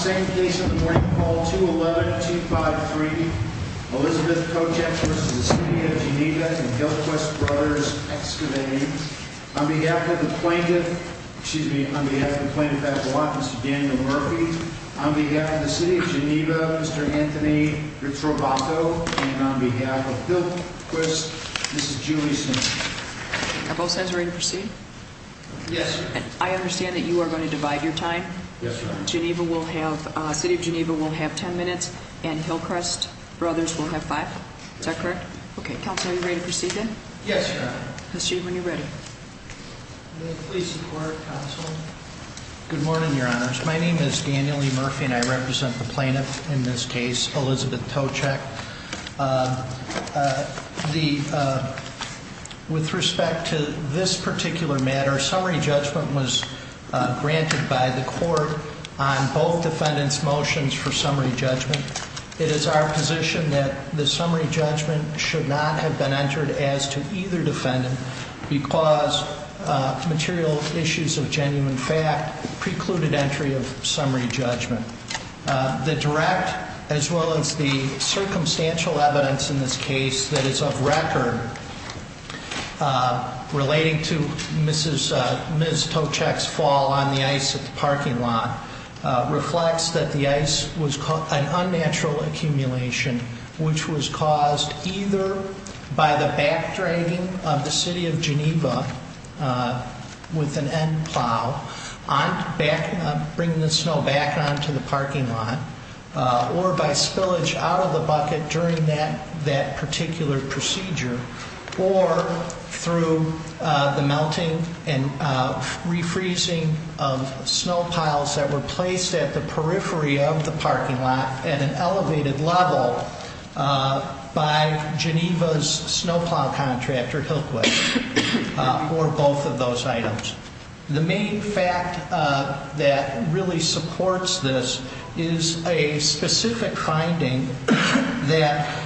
On behalf of the plaintiff, excuse me, on behalf of the plaintiff at the lot, Mr. Daniel Murphy, on behalf of the City of Geneva, Mr. Anthony Ritrovato, and on behalf of Hillquist, this is Julie Simpson. Are both sides ready to proceed? Yes. I understand that you are going to divide your time? Yes, ma'am. Geneva will have, City of Geneva will have 10 minutes, and Hillquist Brothers will have 5? Is that correct? Okay. Counsel, are you ready to proceed then? Yes, Your Honor. I'll see you when you're ready. May the police and court counsel? Good morning, Your Honors. My name is Daniel E. Murphy, and I represent the plaintiff in this case, Elizabeth Tocheck. With respect to this particular matter, summary judgment was granted by the court on both defendants' motions for summary judgment. It is our position that the summary judgment should not have been entered as to either defendant because material issues of genuine fact precluded entry of summary judgment. The direct, as well as the circumstantial evidence in this case that is of record, relating to Ms. Tocheck's fall on the ice at the parking lot, reflects that the ice was an unnatural accumulation, which was caused either by the backdragging of the City of Geneva with an end plow, bringing the snow back onto the parking lot, or by spillage out of the bucket during that particular procedure, or through the melting and refreezing of snow piles that were placed at the periphery of the parking lot at an elevated level by Geneva's snow plow contractor, Hillquist, for both of those items. The main fact that really supports this is a specific finding that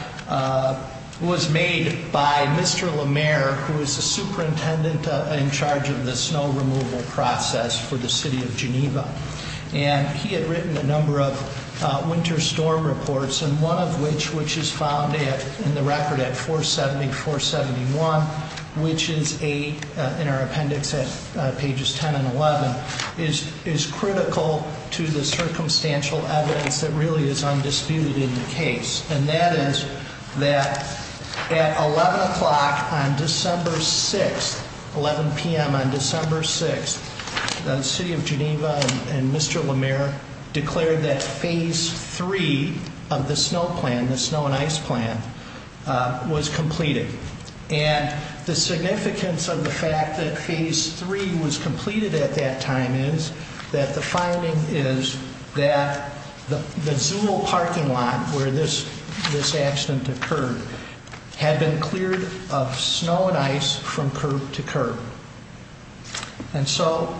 was made by Mr. LaMare, who is the superintendent in charge of the snow removal process for the City of Geneva. And he had written a number of winter storm reports, and one of which, which is found in the record at 470, 471, which is in our appendix at pages 10 and 11, is critical to the circumstantial evidence that really is undisputed in the case. And that is that at 11 o'clock on December 6th, 11 p.m. on December 6th, the City of Geneva and Mr. LaMare declared that Phase 3 of the snow plan, the snow and ice plan, was completed. And the significance of the fact that Phase 3 was completed at that time is that the finding is that the Zule parking lot where this accident occurred had been cleared of snow and ice from curb to curb. And so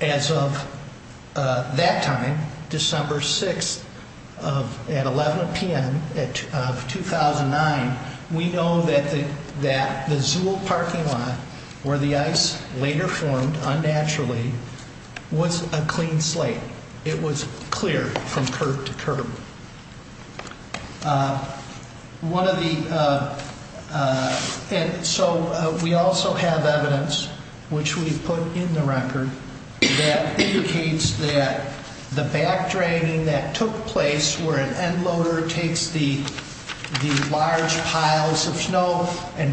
as of that time, December 6th at 11 p.m. of 2009, we know that the Zule parking lot, where the ice later formed unnaturally, was a clean slate. It was cleared from curb to curb. One of the, and so we also have evidence, which we put in the record, that indicates that the back draining that took place where an end loader takes the large piles of snow and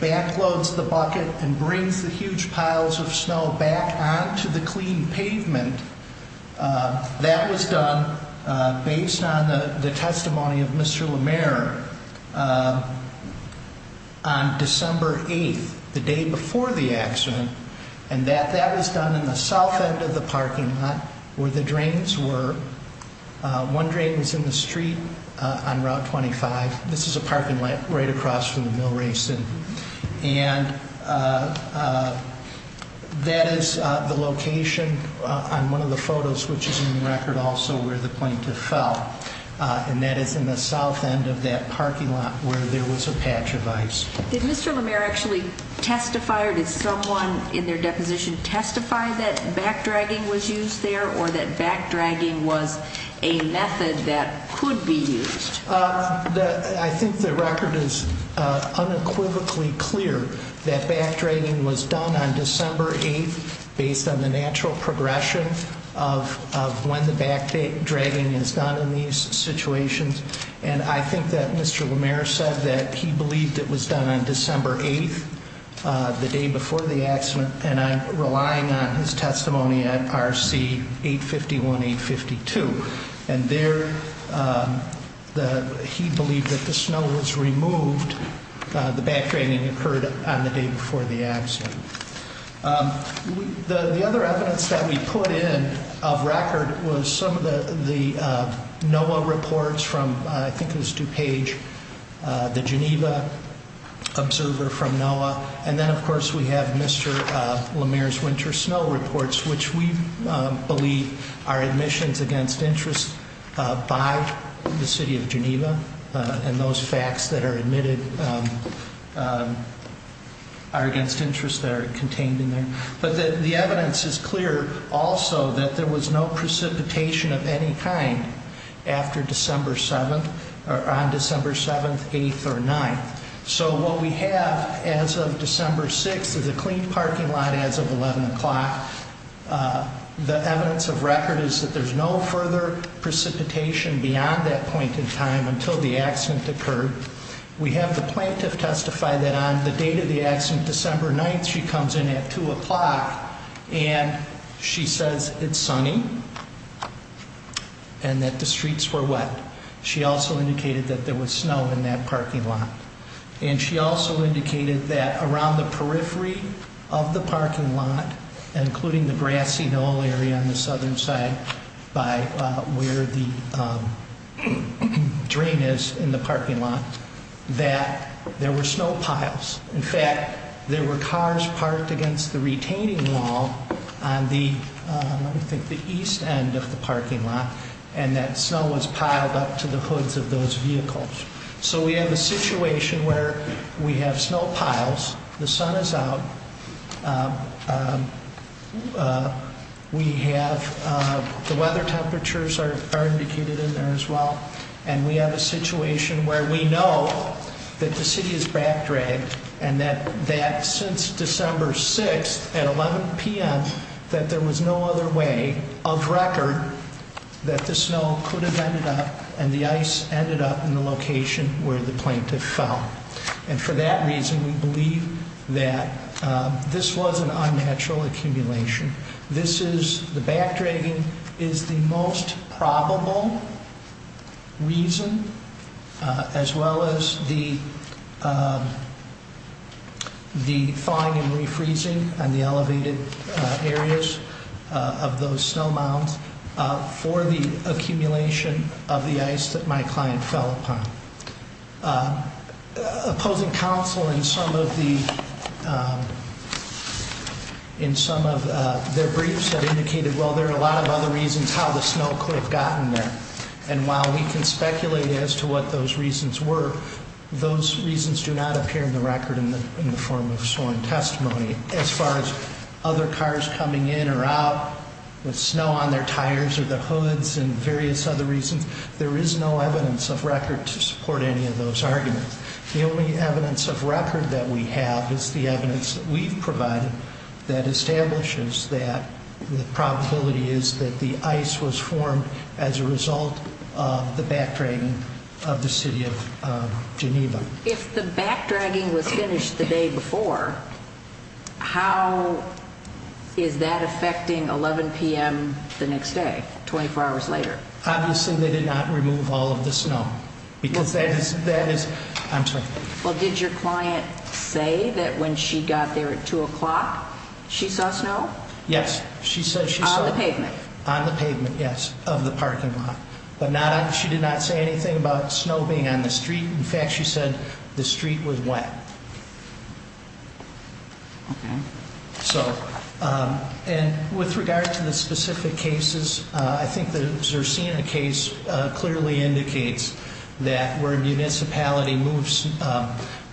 back loads the bucket and brings the huge piles of snow back onto the clean pavement, that was done based on the testimony of Mr. LaMare on December 8th, the day before the accident. And that was done in the south end of the parking lot where the drains were. One drain was in the street on Route 25. This is a parking lot right across from the mill racing. And that is the location on one of the photos, which is in the record also, where the plaintiff fell. And that is in the south end of that parking lot where there was a patch of ice. Did Mr. LaMare actually testify or did someone in their deposition testify that back dragging was used there or that back dragging was a method that could be used? I think the record is unequivocally clear that back dragging was done on December 8th based on the natural progression of when the back dragging is done in these situations. And I think that Mr. LaMare said that he believed it was done on December 8th, the day before the accident. And I'm relying on his testimony at RC 851, 852. And there he believed that the snow was removed, the back dragging occurred on the day before the accident. The other evidence that we put in of record was some of the NOAA reports from, I think it was DuPage, the Geneva observer from NOAA. And then of course we have Mr. LaMare's winter snow reports, which we believe are admissions against interest by the city of Geneva. And those facts that are admitted are against interest that are contained in there. But the evidence is clear also that there was no precipitation of any kind after December 7th, or on December 7th, 8th, or 9th. So what we have as of December 6th is a clean parking lot as of 11 o'clock. The evidence of record is that there's no further precipitation beyond that point in time until the accident occurred. We have the plaintiff testify that on the date of the accident, December 9th, she comes in at 2 o'clock and she says it's sunny and that the streets were wet. She also indicated that there was snow in that parking lot. And she also indicated that around the periphery of the parking lot, including the grassy knoll area on the southern side by where the drain is in the parking lot, that there were snow piles. In fact, there were cars parked against the retaining wall on the east end of the parking lot, and that snow was piled up to the hoods of those vehicles. So we have a situation where we have snow piles, the sun is out, the weather temperatures are indicated in there as well, and we have a situation where we know that the city is backdragged and that since December 6th at 11 p.m., that there was no other way of record that the snow could have ended up and the ice ended up in the location where the plaintiff fell. And for that reason, we believe that this was an unnatural accumulation. The backdragging is the most probable reason, as well as the thawing and refreezing on the elevated areas of those snow mounds for the accumulation of the ice that my client fell upon. Opposing counsel in some of their briefs have indicated, well, there are a lot of other reasons how the snow could have gotten there. And while we can speculate as to what those reasons were, those reasons do not appear in the record in the form of sworn testimony. As far as other cars coming in or out with snow on their tires or their hoods and various other reasons, there is no evidence of record to support any of those arguments. The only evidence of record that we have is the evidence that we've provided that establishes that the probability is that the ice was formed as a result of the backdragging of the city of Geneva. If the backdragging was finished the day before, how is that affecting 11 p.m. the next day, 24 hours later? Obviously, they did not remove all of the snow. Well, did your client say that when she got there at 2 o'clock, she saw snow? Yes. On the pavement? On the pavement, yes, of the parking lot. But she did not say anything about snow being on the street. In fact, she said the street was wet. Okay. So, and with regard to the specific cases, I think the Zircina case clearly indicates that where a municipality moves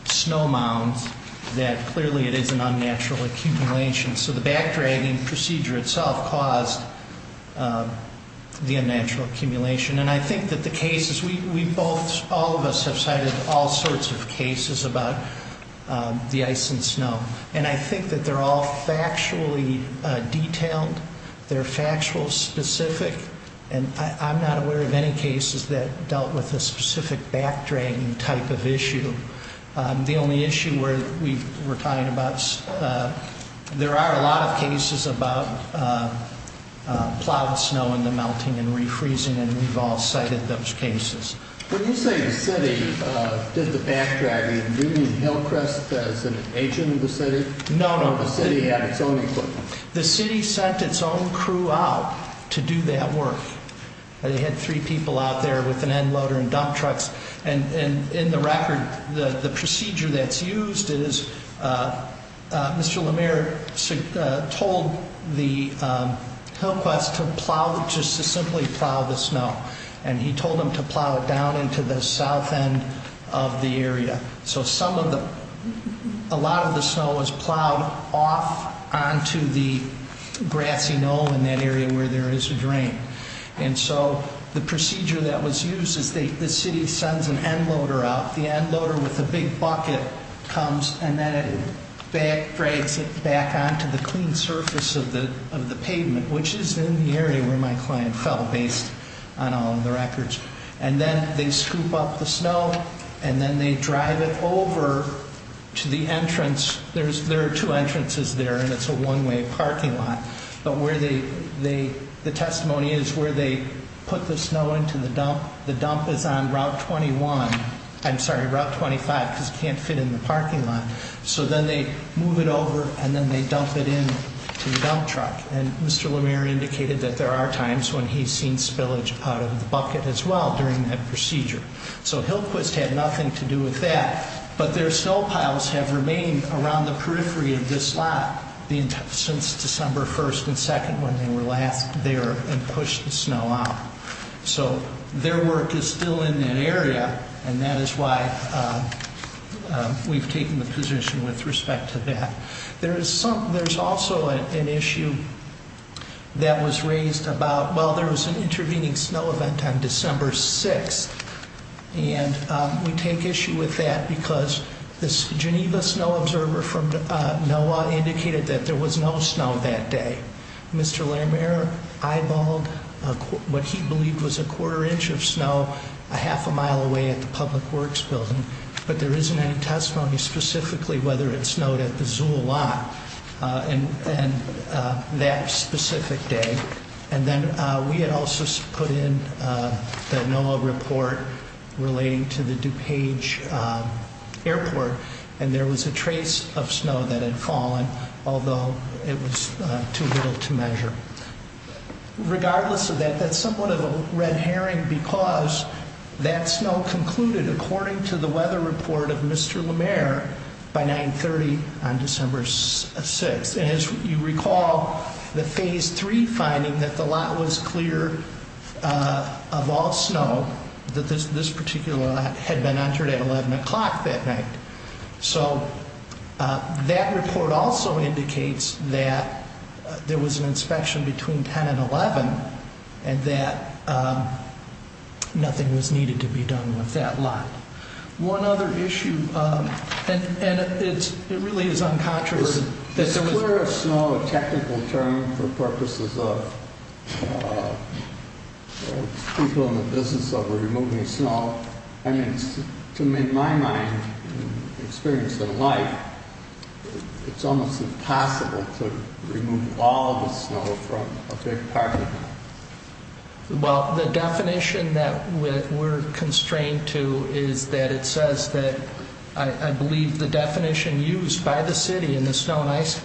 snow mounds, that clearly it is an unnatural accumulation. So the backdragging procedure itself caused the unnatural accumulation. And I think that the cases, we both, all of us have cited all sorts of cases about the ice and snow. And I think that they're all factually detailed. They're factual specific. And I'm not aware of any cases that dealt with a specific backdragging type of issue. The only issue we're talking about, there are a lot of cases about plowed snow and the melting and refreezing, and we've all cited those cases. When you say the city did the backdragging, do you mean Hillcrest as an agent of the city? No, no. Or the city had its own equipment? The city sent its own crew out to do that work. They had three people out there with an end loader and dump trucks. And in the record, the procedure that's used is Mr. LaMere told the Hillcrest to plow, just to simply plow the snow. And he told them to plow it down into the south end of the area. So some of the, a lot of the snow was plowed off onto the grassy knoll in that area where there is a drain. And so the procedure that was used is the city sends an end loader out. The end loader with the big bucket comes and then it backdrags it back onto the clean surface of the pavement, which is in the area where my client fell, based on all of the records. And then they scoop up the snow, and then they drive it over to the entrance. There are two entrances there, and it's a one-way parking lot. But where they, the testimony is where they put the snow into the dump. The dump is on Route 21. I'm sorry, Route 25, because it can't fit in the parking lot. So then they move it over, and then they dump it into the dump truck. And Mr. LaMere indicated that there are times when he's seen spillage out of the bucket as well during that procedure. So Hillcrest had nothing to do with that. But their snow piles have remained around the periphery of this lot since December 1st and 2nd, when they were last there and pushed the snow out. So their work is still in that area, and that is why we've taken the position with respect to that. There's also an issue that was raised about, well, there was an intervening snow event on December 6th. And we take issue with that because this Geneva snow observer from NOAA indicated that there was no snow that day. Mr. LaMere eyeballed what he believed was a quarter inch of snow a half a mile away at the public works building. But there isn't any testimony specifically whether it snowed at the Zool lot that specific day. And then we had also put in the NOAA report relating to the DuPage airport, and there was a trace of snow that had fallen, although it was too little to measure. Regardless of that, that's somewhat of a red herring because that snow concluded, according to the weather report of Mr. LaMere, by 930 on December 6th. And as you recall, the phase three finding that the lot was clear of all snow, that this particular lot had been entered at 11 o'clock that night. So that report also indicates that there was an inspection between 10 and 11 and that nothing was needed to be done with that lot. One other issue, and it really is uncontroversial... Is clear of snow a technical term for purposes of people in the business of removing snow? I mean, to me, in my mind, experience in life, it's almost impossible to remove all the snow from a big parking lot. Well, the definition that we're constrained to is that it says that... I believe the definition used by the city in the snow and ice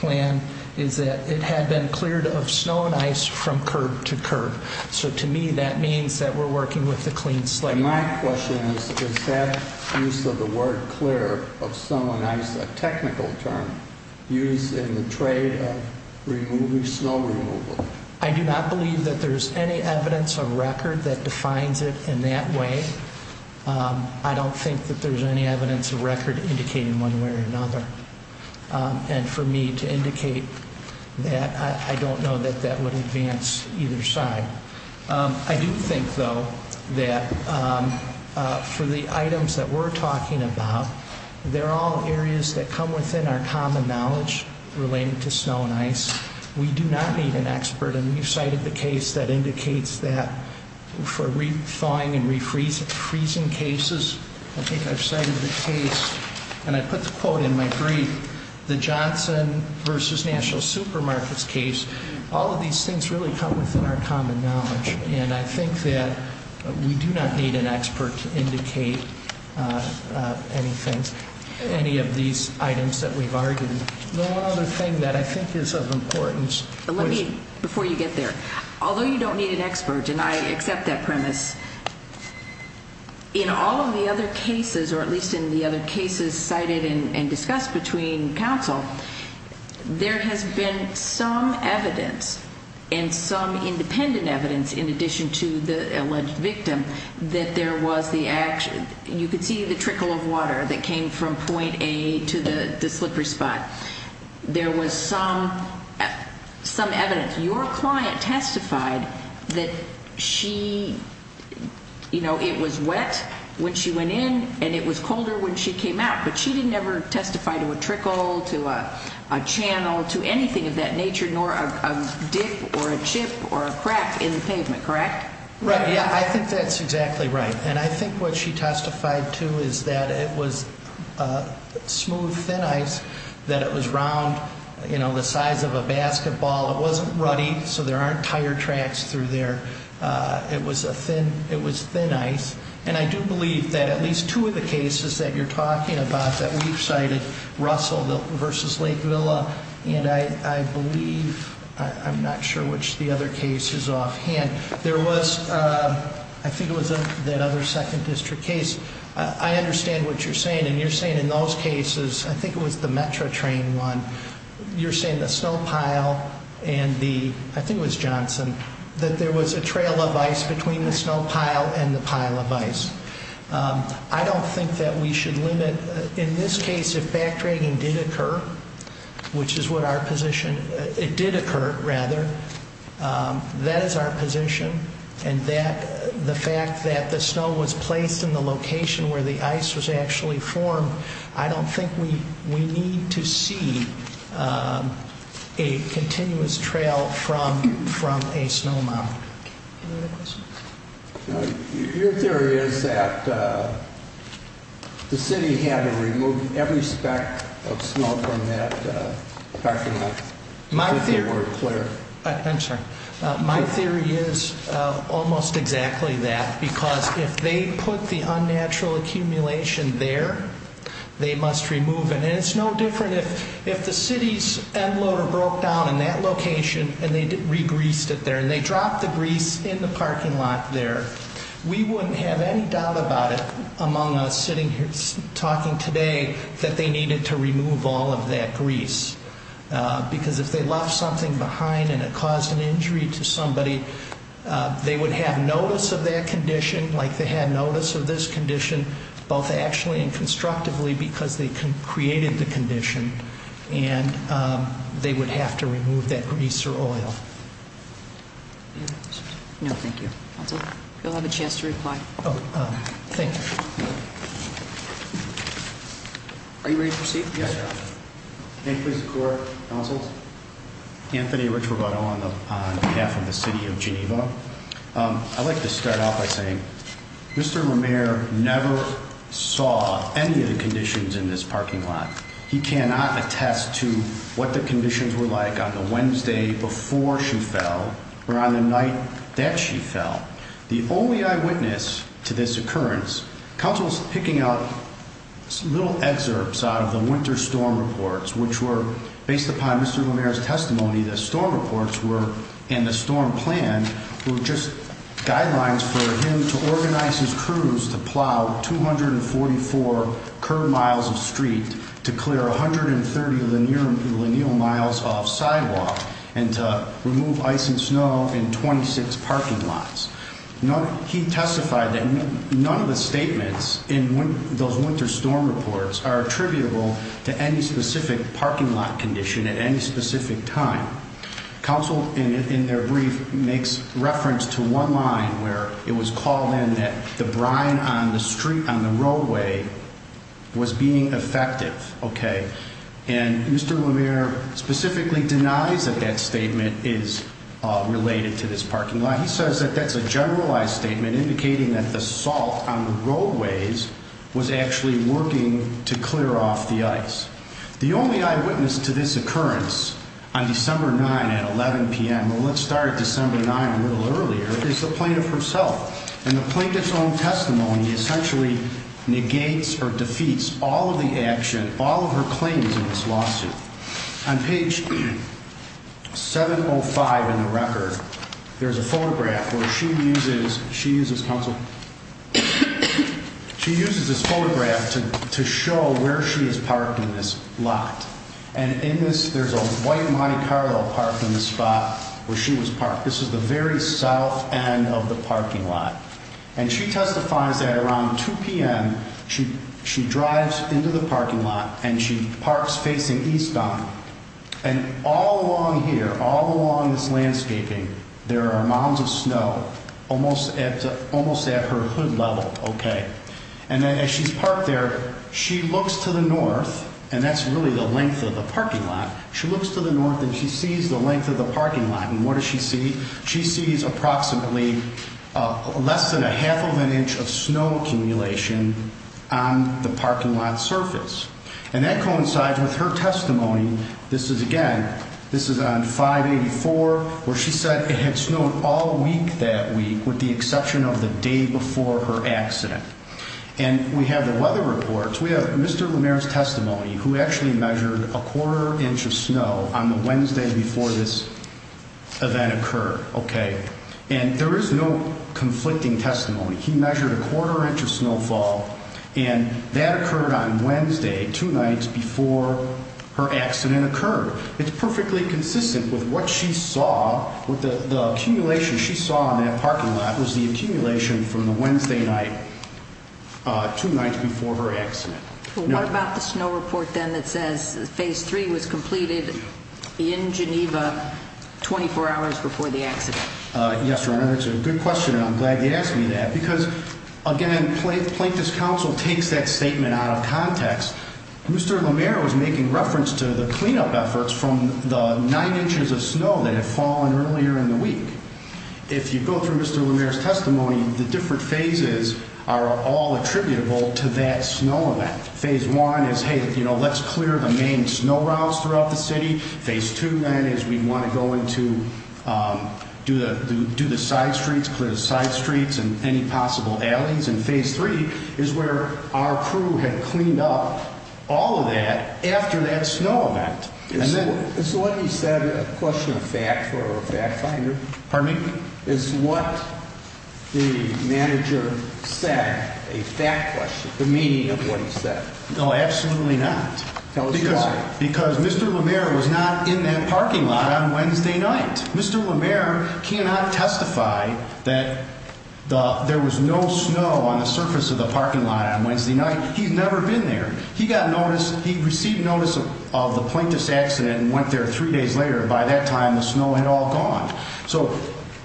plan is that it had been cleared of snow and ice from curb to curb. So to me, that means that we're working with the clean slate. My question is, is that use of the word clear of snow and ice a technical term used in the trade of removing snow removal? I do not believe that there's any evidence of record that defines it in that way. I don't think that there's any evidence of record indicating one way or another. And for me to indicate that, I don't know that that would advance either side. I do think, though, that for the items that we're talking about, they're all areas that come within our common knowledge relating to snow and ice. We do not need an expert. And you cited the case that indicates that for re-thawing and re-freezing cases. I think I've cited the case, and I put the quote in my brief, the Johnson v. National Supermarkets case. All of these things really come within our common knowledge. And I think that we do not need an expert to indicate any of these items that we've argued. The one other thing that I think is of importance. Let me, before you get there. Although you don't need an expert, and I accept that premise, in all of the other cases, or at least in the other cases cited and discussed between counsel, there has been some evidence and some independent evidence, in addition to the alleged victim, that there was the action. You could see the trickle of water that came from point A to the slippery spot. There was some evidence. Your client testified that she, you know, it was wet when she went in, and it was colder when she came out. But she didn't ever testify to a trickle, to a channel, to anything of that nature, nor a dip or a chip or a crack in the pavement, correct? Right, yeah. I think that's exactly right. And I think what she testified to is that it was smooth, thin ice, that it was round, you know, the size of a basketball. It wasn't ruddy, so there aren't tire tracks through there. It was thin ice. And I do believe that at least two of the cases that you're talking about that we've cited, Russell v. Lake Villa, and I believe, I'm not sure which of the other cases offhand, there was, I think it was that other second district case. I understand what you're saying. And you're saying in those cases, I think it was the Metra train one, you're saying the snow pile and the, I think it was Johnson, that there was a trail of ice between the snow pile and the pile of ice. I don't think that we should limit. In this case, if backdragging did occur, which is what our position, it did occur, rather, that is our position, and the fact that the snow was placed in the location where the ice was actually formed, I don't think we need to see a continuous trail from a snow mound. Any other questions? Your theory is that the city had to remove every speck of snow from that parking lot. My theory is almost exactly that, because if they put the unnatural accumulation there, they must remove it. And it's no different if the city's end loader broke down in that location and they re-greased it there and they dropped the grease in the parking lot there. We wouldn't have any doubt about it among us sitting here talking today that they needed to remove all of that grease, because if they left something behind and it caused an injury to somebody, they would have notice of that condition like they had notice of this condition, both actually and constructively because they created the condition, and they would have to remove that grease or oil. No, thank you. Counsel, you'll have a chance to reply. Oh, thank you. Are you ready to proceed? Yes, Your Honor. May it please the Court. Counsel. Anthony Ricciardotto on behalf of the city of Geneva. I'd like to start off by saying Mr. Romare never saw any of the conditions in this parking lot. He cannot attest to what the conditions were like on the Wednesday before she fell or on the night that she fell. The only eyewitness to this occurrence, counsel's picking up little excerpts out of the winter storm reports, which were based upon Mr. Romare's testimony, the storm reports were in the storm plan were just guidelines for him to organize his crews to plow 244 curb miles of street to clear 130 lineal miles off sidewalk and to remove ice and snow in 26 parking lots. He testified that none of the statements in those winter storm reports are attributable to any specific parking lot condition at any specific time. Counsel, in their brief, makes reference to one line where it was called in that the brine on the street, on the roadway, was being effective. Okay. And Mr. Romare specifically denies that that statement is related to this parking lot. He says that that's a generalized statement indicating that the salt on the roadways was actually working to clear off the ice. The only eyewitness to this occurrence on December 9 at 11 p.m., well, let's start at December 9 a little earlier, is the plaintiff herself. And the plaintiff's own testimony essentially negates or defeats all of the action, all of her claims in this lawsuit. On page 705 in the record, there's a photograph where she uses counsel. She uses this photograph to show where she is parked in this lot. And in this, there's a white Monte Carlo parked in the spot where she was parked. This is the very south end of the parking lot. And she testifies that around 2 p.m. she drives into the parking lot and she parks facing eastbound. And all along here, all along this landscaping, there are mounds of snow almost at her hood level. Okay. And as she's parked there, she looks to the north, and that's really the length of the parking lot. She looks to the north and she sees the length of the parking lot. And what does she see? She sees approximately less than a half of an inch of snow accumulation on the parking lot surface. And that coincides with her testimony. This is, again, this is on 584 where she said it had snowed all week that week, with the exception of the day before her accident. And we have the weather reports. We have Mr. LaMera's testimony who actually measured a quarter inch of snow on the Wednesday before this event occurred. Okay. And there is no conflicting testimony. He measured a quarter inch of snowfall, and that occurred on Wednesday, two nights before her accident occurred. It's perfectly consistent with what she saw, with the accumulation she saw in that parking lot was the accumulation from the Wednesday night, two nights before her accident. What about the snow report then that says Phase 3 was completed in Geneva 24 hours before the accident? Yes, Your Honor, that's a good question, and I'm glad you asked me that. Because, again, Plaintiff's Counsel takes that statement out of context. Mr. LaMera was making reference to the cleanup efforts from the nine inches of snow that had fallen earlier in the week. If you go through Mr. LaMera's testimony, the different phases are all attributable to that snow event. Phase 1 is, hey, you know, let's clear the main snow routes throughout the city. Phase 2, then, is we want to go into do the side streets, clear the side streets and any possible alleys. And Phase 3 is where our crew had cleaned up all of that after that snow event. Is what he said a question of fact for a fact finder? Pardon me? Is what the manager said a fact question, the meaning of what he said? No, absolutely not. Tell us why. Because Mr. LaMera was not in that parking lot on Wednesday night. Mr. LaMera cannot testify that there was no snow on the surface of the parking lot on Wednesday night. He's never been there. He got notice. He received notice of the plaintiff's accident and went there three days later. By that time, the snow had all gone. So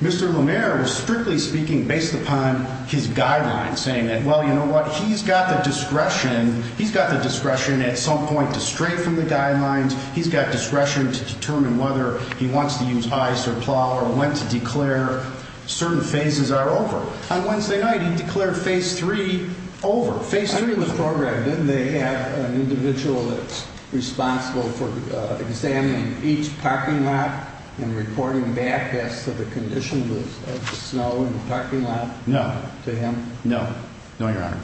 Mr. LaMera was strictly speaking based upon his guidelines, saying that, well, you know what, he's got the discretion. He's got the discretion at some point to stray from the guidelines. He's got discretion to determine whether he wants to use ice or plow or when to declare certain phases are over. On Wednesday night, he declared Phase 3 over. Phase 3 was programmed. Didn't they have an individual that's responsible for examining each parking lot and reporting back as to the condition of the snow in the parking lot? No. To him? No. No, Your Honor.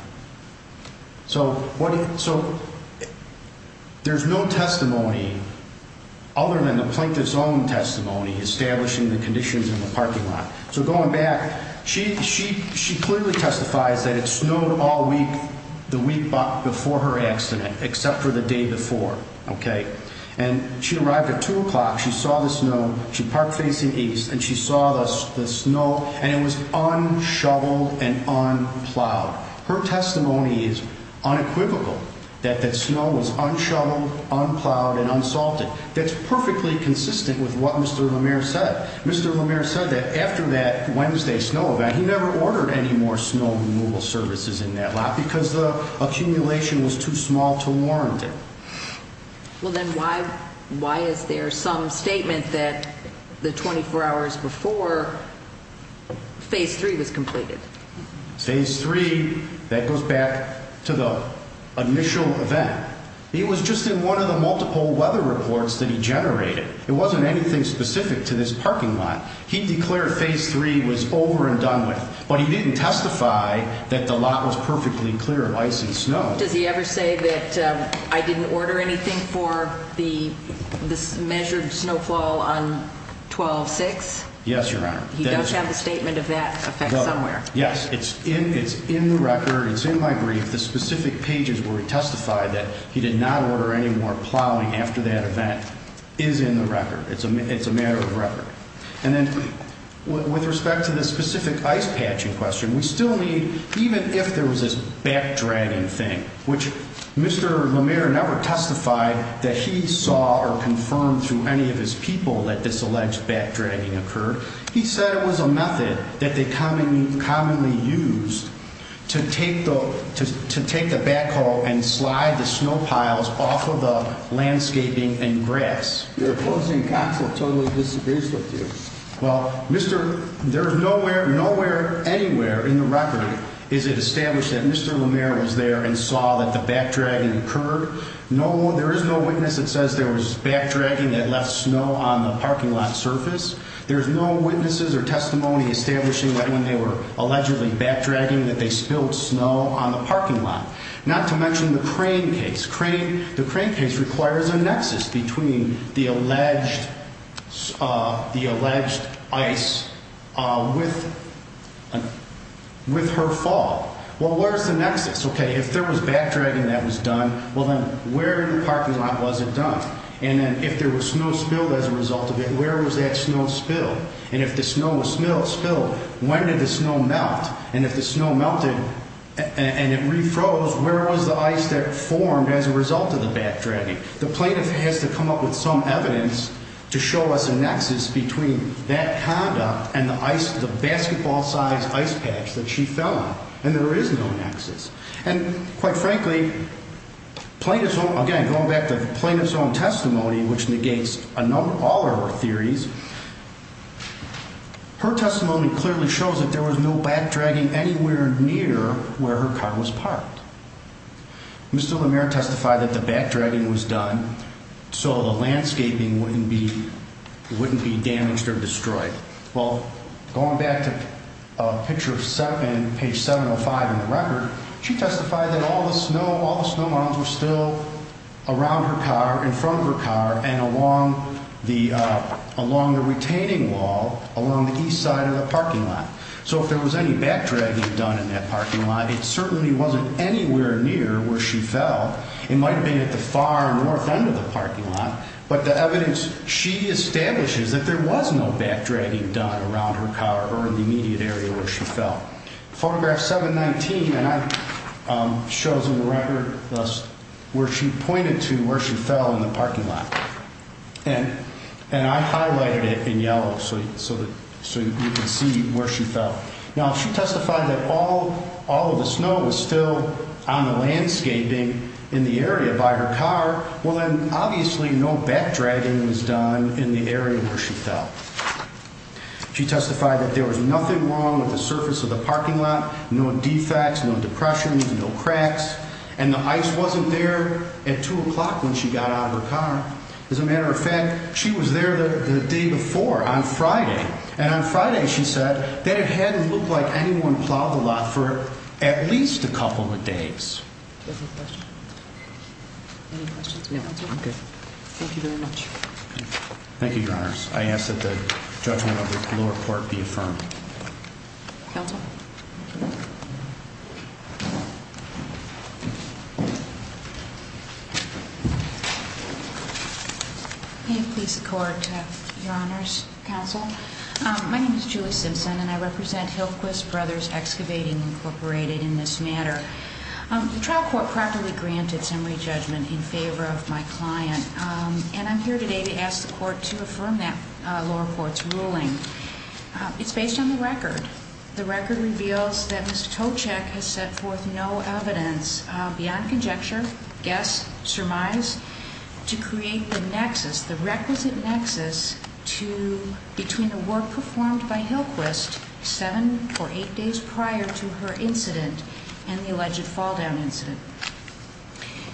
So there's no testimony other than the plaintiff's own testimony establishing the conditions in the parking lot. So going back, she clearly testifies that it snowed all week, the week before her accident, except for the day before. OK? And she arrived at 2 o'clock. She saw the snow. She parked facing east, and she saw the snow, and it was unshoveled and unplowed. Her testimony is unequivocal that that snow was unshoveled, unplowed, and unsalted. That's perfectly consistent with what Mr. LaMere said. Mr. LaMere said that after that Wednesday snow event, he never ordered any more snow removal services in that lot because the accumulation was too small to warrant it. Well, then why is there some statement that the 24 hours before Phase 3 was completed? Phase 3, that goes back to the initial event. It was just in one of the multiple weather reports that he generated. It wasn't anything specific to this parking lot. He declared Phase 3 was over and done with, but he didn't testify that the lot was perfectly clear of ice and snow. Does he ever say that I didn't order anything for the measured snowfall on 12-6? Yes, Your Honor. He does have a statement of that effect somewhere. Yes, it's in the record. It's in my brief. The specific pages where he testified that he did not order any more plowing after that event is in the record. It's a matter of record. And then with respect to the specific ice patching question, we still need, even if there was this backdragging thing, which Mr. LaMere never testified that he saw or confirmed through any of his people that this alleged backdragging occurred, he said it was a method that they commonly used to take the backhoe and slide the snow piles off of the landscaping and grass. Your opposing counsel totally disagrees with you. Well, there is nowhere anywhere in the record is it established that Mr. LaMere was there and saw that the backdragging occurred. There is no witness that says there was backdragging that left snow on the parking lot surface. There is no witnesses or testimony establishing that when they were allegedly backdragging that they spilled snow on the parking lot. Not to mention the crane case. The crane case requires a nexus between the alleged ice with her fall. Well, where is the nexus? Okay, if there was backdragging that was done, well, then where in the parking lot was it done? And then if there was snow spilled as a result of it, where was that snow spilled? And if the snow was spilled, when did the snow melt? And if the snow melted and it refroze, where was the ice that formed as a result of the backdragging? The plaintiff has to come up with some evidence to show us a nexus between that conduct and the ice, the basketball-sized ice patch that she fell on. And there is no nexus. And quite frankly, again, going back to the plaintiff's own testimony, which negates all of her theories, her testimony clearly shows that there was no backdragging anywhere near where her car was parked. Mr. LeMaire testified that the backdragging was done so the landscaping wouldn't be damaged or destroyed. Well, going back to a picture of page 705 in the record, she testified that all the snow mounds were still around her car, in front of her car, and along the retaining wall along the east side of the parking lot. So if there was any backdragging done in that parking lot, it certainly wasn't anywhere near where she fell. It might have been at the far north end of the parking lot. But the evidence she establishes that there was no backdragging done around her car or in the immediate area where she fell. Photograph 719 shows in the record where she pointed to where she fell in the parking lot. And I highlighted it in yellow so you can see where she fell. Now, she testified that all of the snow was still on the landscaping in the area by her car. Well, then obviously no backdragging was done in the area where she fell. She testified that there was nothing wrong with the surface of the parking lot. No defects, no depressions, no cracks. And the ice wasn't there at 2 o'clock when she got out of her car. As a matter of fact, she was there the day before on Friday. And on Friday, she said that it hadn't looked like anyone plowed the lot for at least a couple of days. Any questions? Thank you very much. Thank you, Your Honors. I ask that the judgment of the lower court be affirmed. Counsel? May it please the Court, Your Honors, Counsel? My name is Julie Simpson, and I represent Hilquis Brothers Excavating, Incorporated, in this matter. The trial court properly granted summary judgment in favor of my client. And I'm here today to ask the court to affirm that lower court's ruling. It's based on the record. The record reveals that Ms. Toczek has set forth no evidence beyond conjecture, guess, surmise, to create the requisite nexus between the work performed by Hilquist 7 or 8 days prior to her incident and the alleged falldown incident.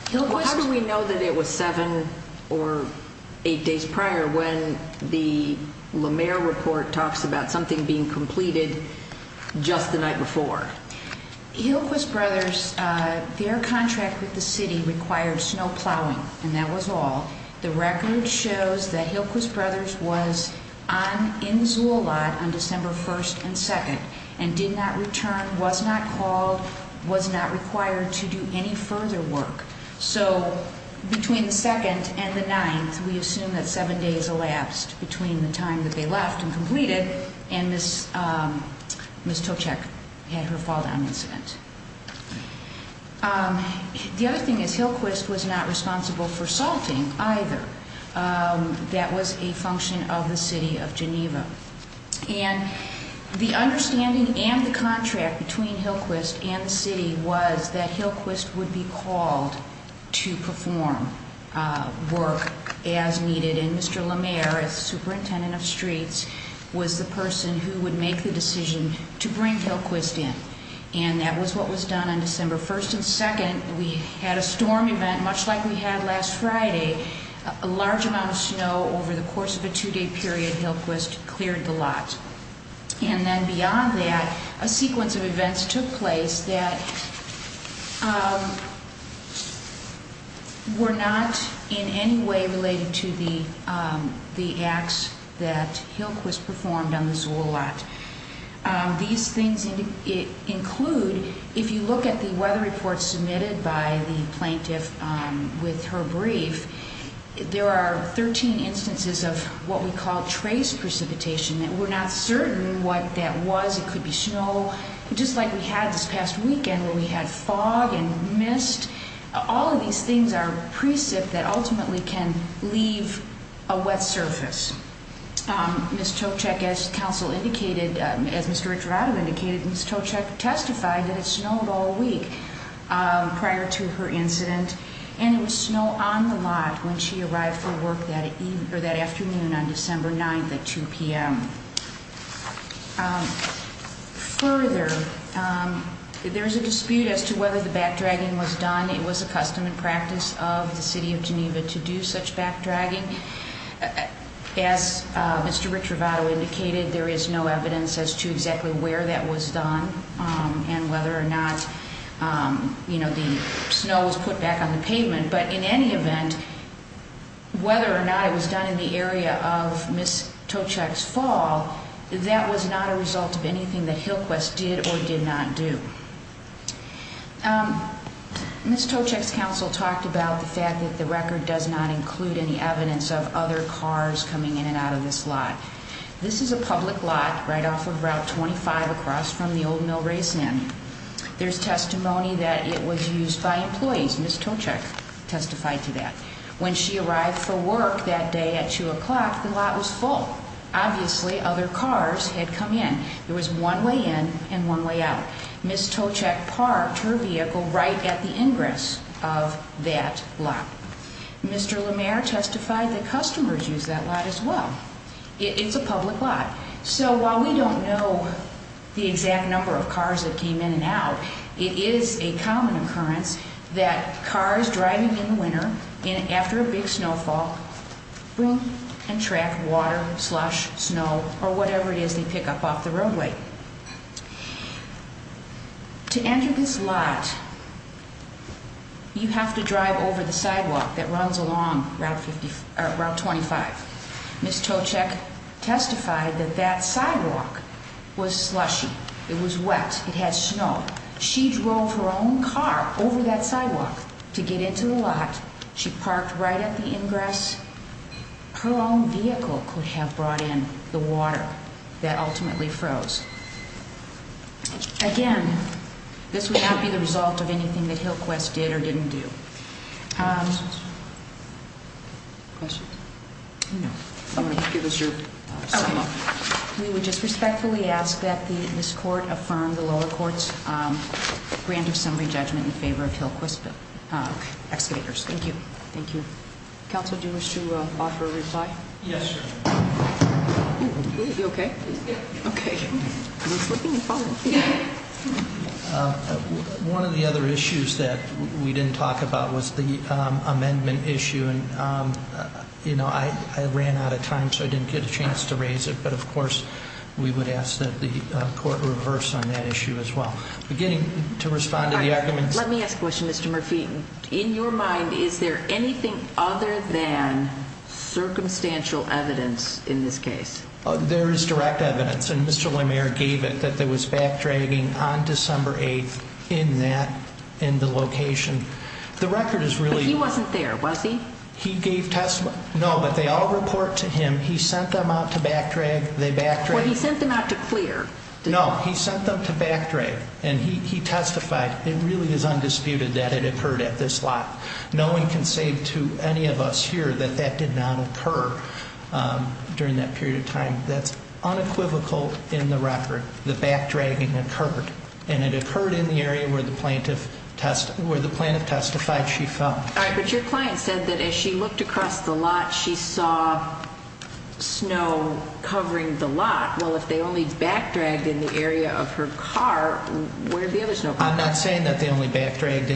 How do we know that it was 7 or 8 days prior when the LaMare report talks about something being completed just the night before? Hilquis Brothers, their contract with the city required snow plowing, and that was all. The record shows that Hilquis Brothers was in the Zulot on December 1st and 2nd and did not return, was not called, was not required to do any further work. So between the 2nd and the 9th, we assume that 7 days elapsed between the time that they left and completed, and Ms. Toczek had her falldown incident. The other thing is Hilquis was not responsible for salting either. And the understanding and the contract between Hilquist and the city was that Hilquist would be called to perform work as needed, and Mr. LaMare, as superintendent of streets, was the person who would make the decision to bring Hilquist in. And that was what was done on December 1st and 2nd. We had a storm event, much like we had last Friday, a large amount of snow over the course of a 2-day period. Hilquist cleared the lot. And then beyond that, a sequence of events took place that were not in any way related to the acts that Hilquist performed on the Zulot. These things include, if you look at the weather report submitted by the plaintiff with her brief, there are 13 instances of what we call trace precipitation. We're not certain what that was. It could be snow, just like we had this past weekend where we had fog and mist. All of these things are precip that ultimately can leave a wet surface. Ms. Toczek, as counsel indicated, as Mr. Echavarria indicated, Ms. Toczek testified that it snowed all week prior to her incident. And it was snow on the lot when she arrived for work that afternoon on December 9th at 2 p.m. Further, there is a dispute as to whether the backdragging was done. It was a custom and practice of the city of Geneva to do such backdragging. As Mr. Ricciaravato indicated, there is no evidence as to exactly where that was done and whether or not the snow was put back on the pavement. But in any event, whether or not it was done in the area of Ms. Toczek's fall, that was not a result of anything that Hillquest did or did not do. Ms. Toczek's counsel talked about the fact that the record does not include any evidence of other cars coming in and out of this lot. This is a public lot right off of Route 25 across from the Old Mill Race Inn. There's testimony that it was used by employees. Ms. Toczek testified to that. When she arrived for work that day at 2 o'clock, the lot was full. Obviously, other cars had come in. There was one way in and one way out. Ms. Toczek parked her vehicle right at the ingress of that lot. Mr. LeMaire testified that customers used that lot as well. It's a public lot. So while we don't know the exact number of cars that came in and out, it is a common occurrence that cars driving in the winter after a big snowfall bring and track water, slush, snow, or whatever it is they pick up off the roadway. To enter this lot, you have to drive over the sidewalk that runs along Route 25. Ms. Toczek testified that that sidewalk was slushy. It was wet. It had snow. She drove her own car over that sidewalk to get into the lot. She parked right at the ingress. Her own vehicle could have brought in the water that ultimately froze. Again, this would not be the result of anything that Hillquest did or didn't do. Questions? No. I'm going to give this your sign-off. We would just respectfully ask that this court affirm the lower court's grant of summary judgment in favor of Hillquest Excavators. Thank you. Thank you. Counsel, do you wish to offer a reply? Yes, sir. You okay? Yeah. Okay. Are you slipping and falling? Yeah. One of the other issues that we didn't talk about was the amendment issue. And, you know, I ran out of time, so I didn't get a chance to raise it. But, of course, we would ask that the court reverse on that issue as well. Beginning to respond to the arguments. Let me ask a question, Mr. Murphy. In your mind, is there anything other than circumstantial evidence in this case? There is direct evidence. And Mr. Lemaire gave it, that there was backdragging on December 8th in that location. The record is really- But he wasn't there, was he? He gave testimony. No, but they all report to him. He sent them out to backdrag. Well, he sent them out to clear. No, he sent them to backdrag. And he testified. It really is undisputed that it occurred at this lot. No one can say to any of us here that that did not occur during that period of time. That's unequivocal in the record. The backdragging occurred. And it occurred in the area where the plaintiff testified she fell. All right, but your client said that as she looked across the lot, she saw snow covering the lot. Well, if they only backdragged in the area of her car, where did the other snow come from? I'm not saying that they only backdragged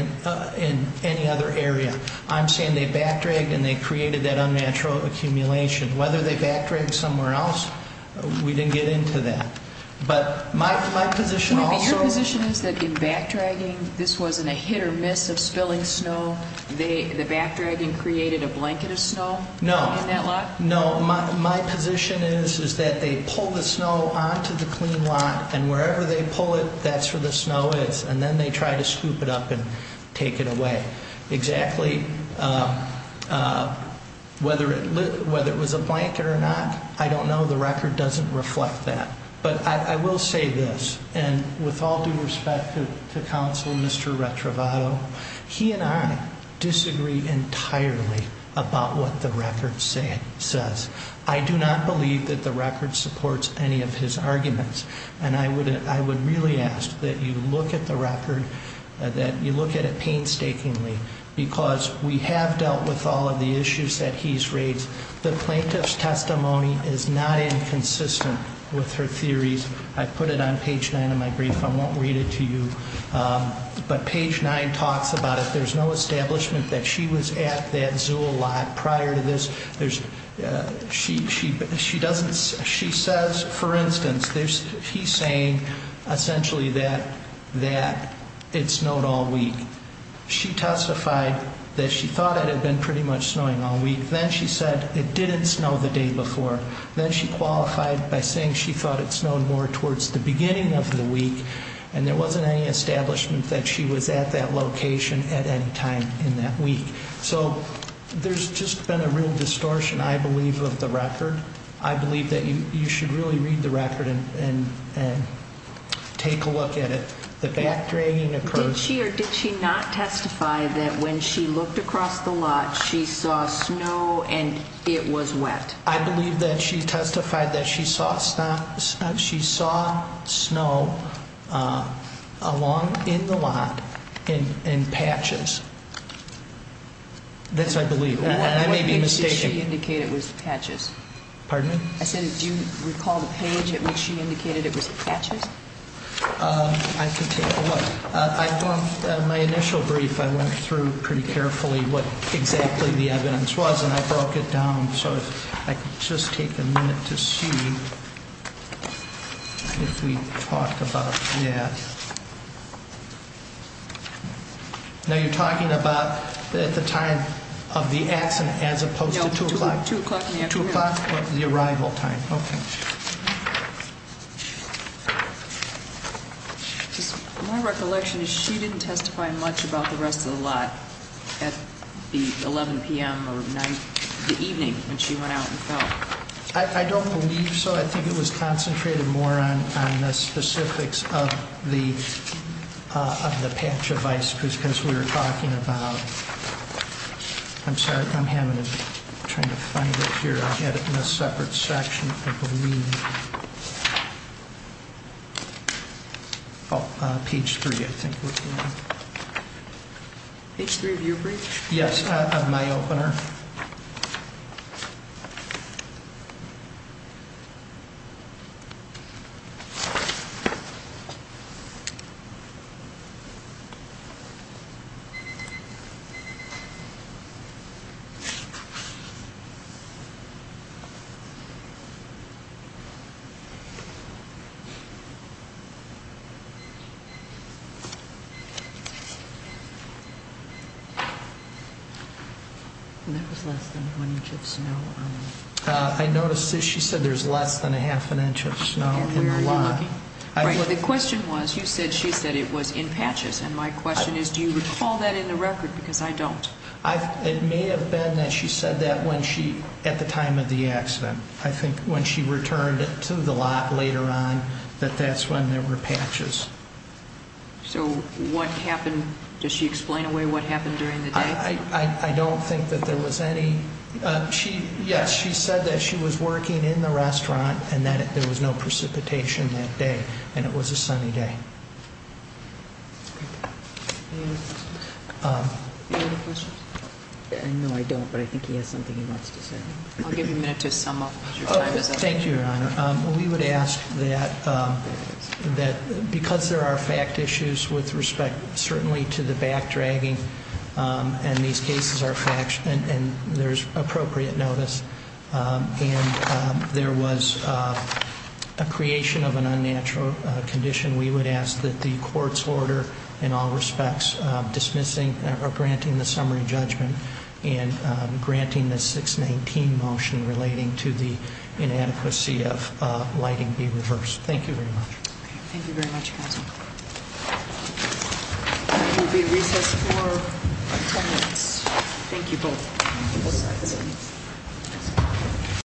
in any other area. I'm saying they backdragged and they created that unnatural accumulation. Whether they backdragged somewhere else, we didn't get into that. But my position also is that in backdragging, this wasn't a hit or miss of spilling snow. The backdragging created a blanket of snow in that lot? No. No, my position is that they pull the snow onto the clean lot, and wherever they pull it, that's where the snow is. And then they try to scoop it up and take it away. Exactly, whether it was a blanket or not, I don't know. The record doesn't reflect that. But I will say this, and with all due respect to Counsel Mr. Retrovato, he and I disagree entirely about what the record says. I do not believe that the record supports any of his arguments. And I would really ask that you look at the record, that you look at it painstakingly, because we have dealt with all of the issues that he's raised. The plaintiff's testimony is not inconsistent with her theories. I put it on page 9 of my brief. I won't read it to you. But page 9 talks about it. There's no establishment that she was at that zoo a lot prior to this. She says, for instance, he's saying essentially that it snowed all week. She testified that she thought it had been pretty much snowing all week. Then she said it didn't snow the day before. Then she qualified by saying she thought it snowed more towards the beginning of the week, and there wasn't any establishment that she was at that location at any time in that week. So there's just been a real distortion, I believe, of the record. I believe that you should really read the record and take a look at it. The backdragging occurs. Did she or did she not testify that when she looked across the lot, she saw snow and it was wet? I believe that she testified that she saw snow along in the lot in patches. This I believe. I may be mistaken. What did she indicate it was patches? Pardon me? I said do you recall the page at which she indicated it was patches? I can take a look. In my initial brief I went through pretty carefully what exactly the evidence was, and I broke it down so I could just take a minute to see if we talked about that. Now, you're talking about at the time of the accident as opposed to 2 o'clock? No, 2 o'clock in the afternoon. 2 o'clock, the arrival time. Okay. My recollection is she didn't testify much about the rest of the lot at the 11 p.m. or the evening when she went out and fell. I don't believe so. I think it was concentrated more on the specifics of the patch of ice because we were talking about ‑‑ I'm sorry, I'm having to try to find it here. I had it in a separate section, I believe. Oh, page 3, I think. Page 3 of your brief? Yes, on my opener. I noticed she said there's less than a half an inch of snow in the lot. And where are you looking? The question was, you said she said it was in patches, and my question is do you recall that in the record because I don't. It may have been that she said that at the time of the accident. I think when she returned to the lot later on that that's when there were patches. So what happened, does she explain away what happened during the day? I don't think that there was any ‑‑ yes, she said that she was working in the restaurant and that there was no precipitation that day and it was a sunny day. Any other questions? No, I don't, but I think he has something he wants to say. I'll give you a minute to sum up. Thank you, Your Honor. We would ask that because there are fact issues with respect certainly to the back dragging and these cases are facts and there's appropriate notice and there was a creation of an unnatural condition. We would ask that the court's order in all respects dismissing or granting the summary judgment and granting the 619 motion relating to the inadequacy of lighting be reversed. Thank you very much. Thank you very much, counsel. You will be recessed for ten minutes. Thank you both.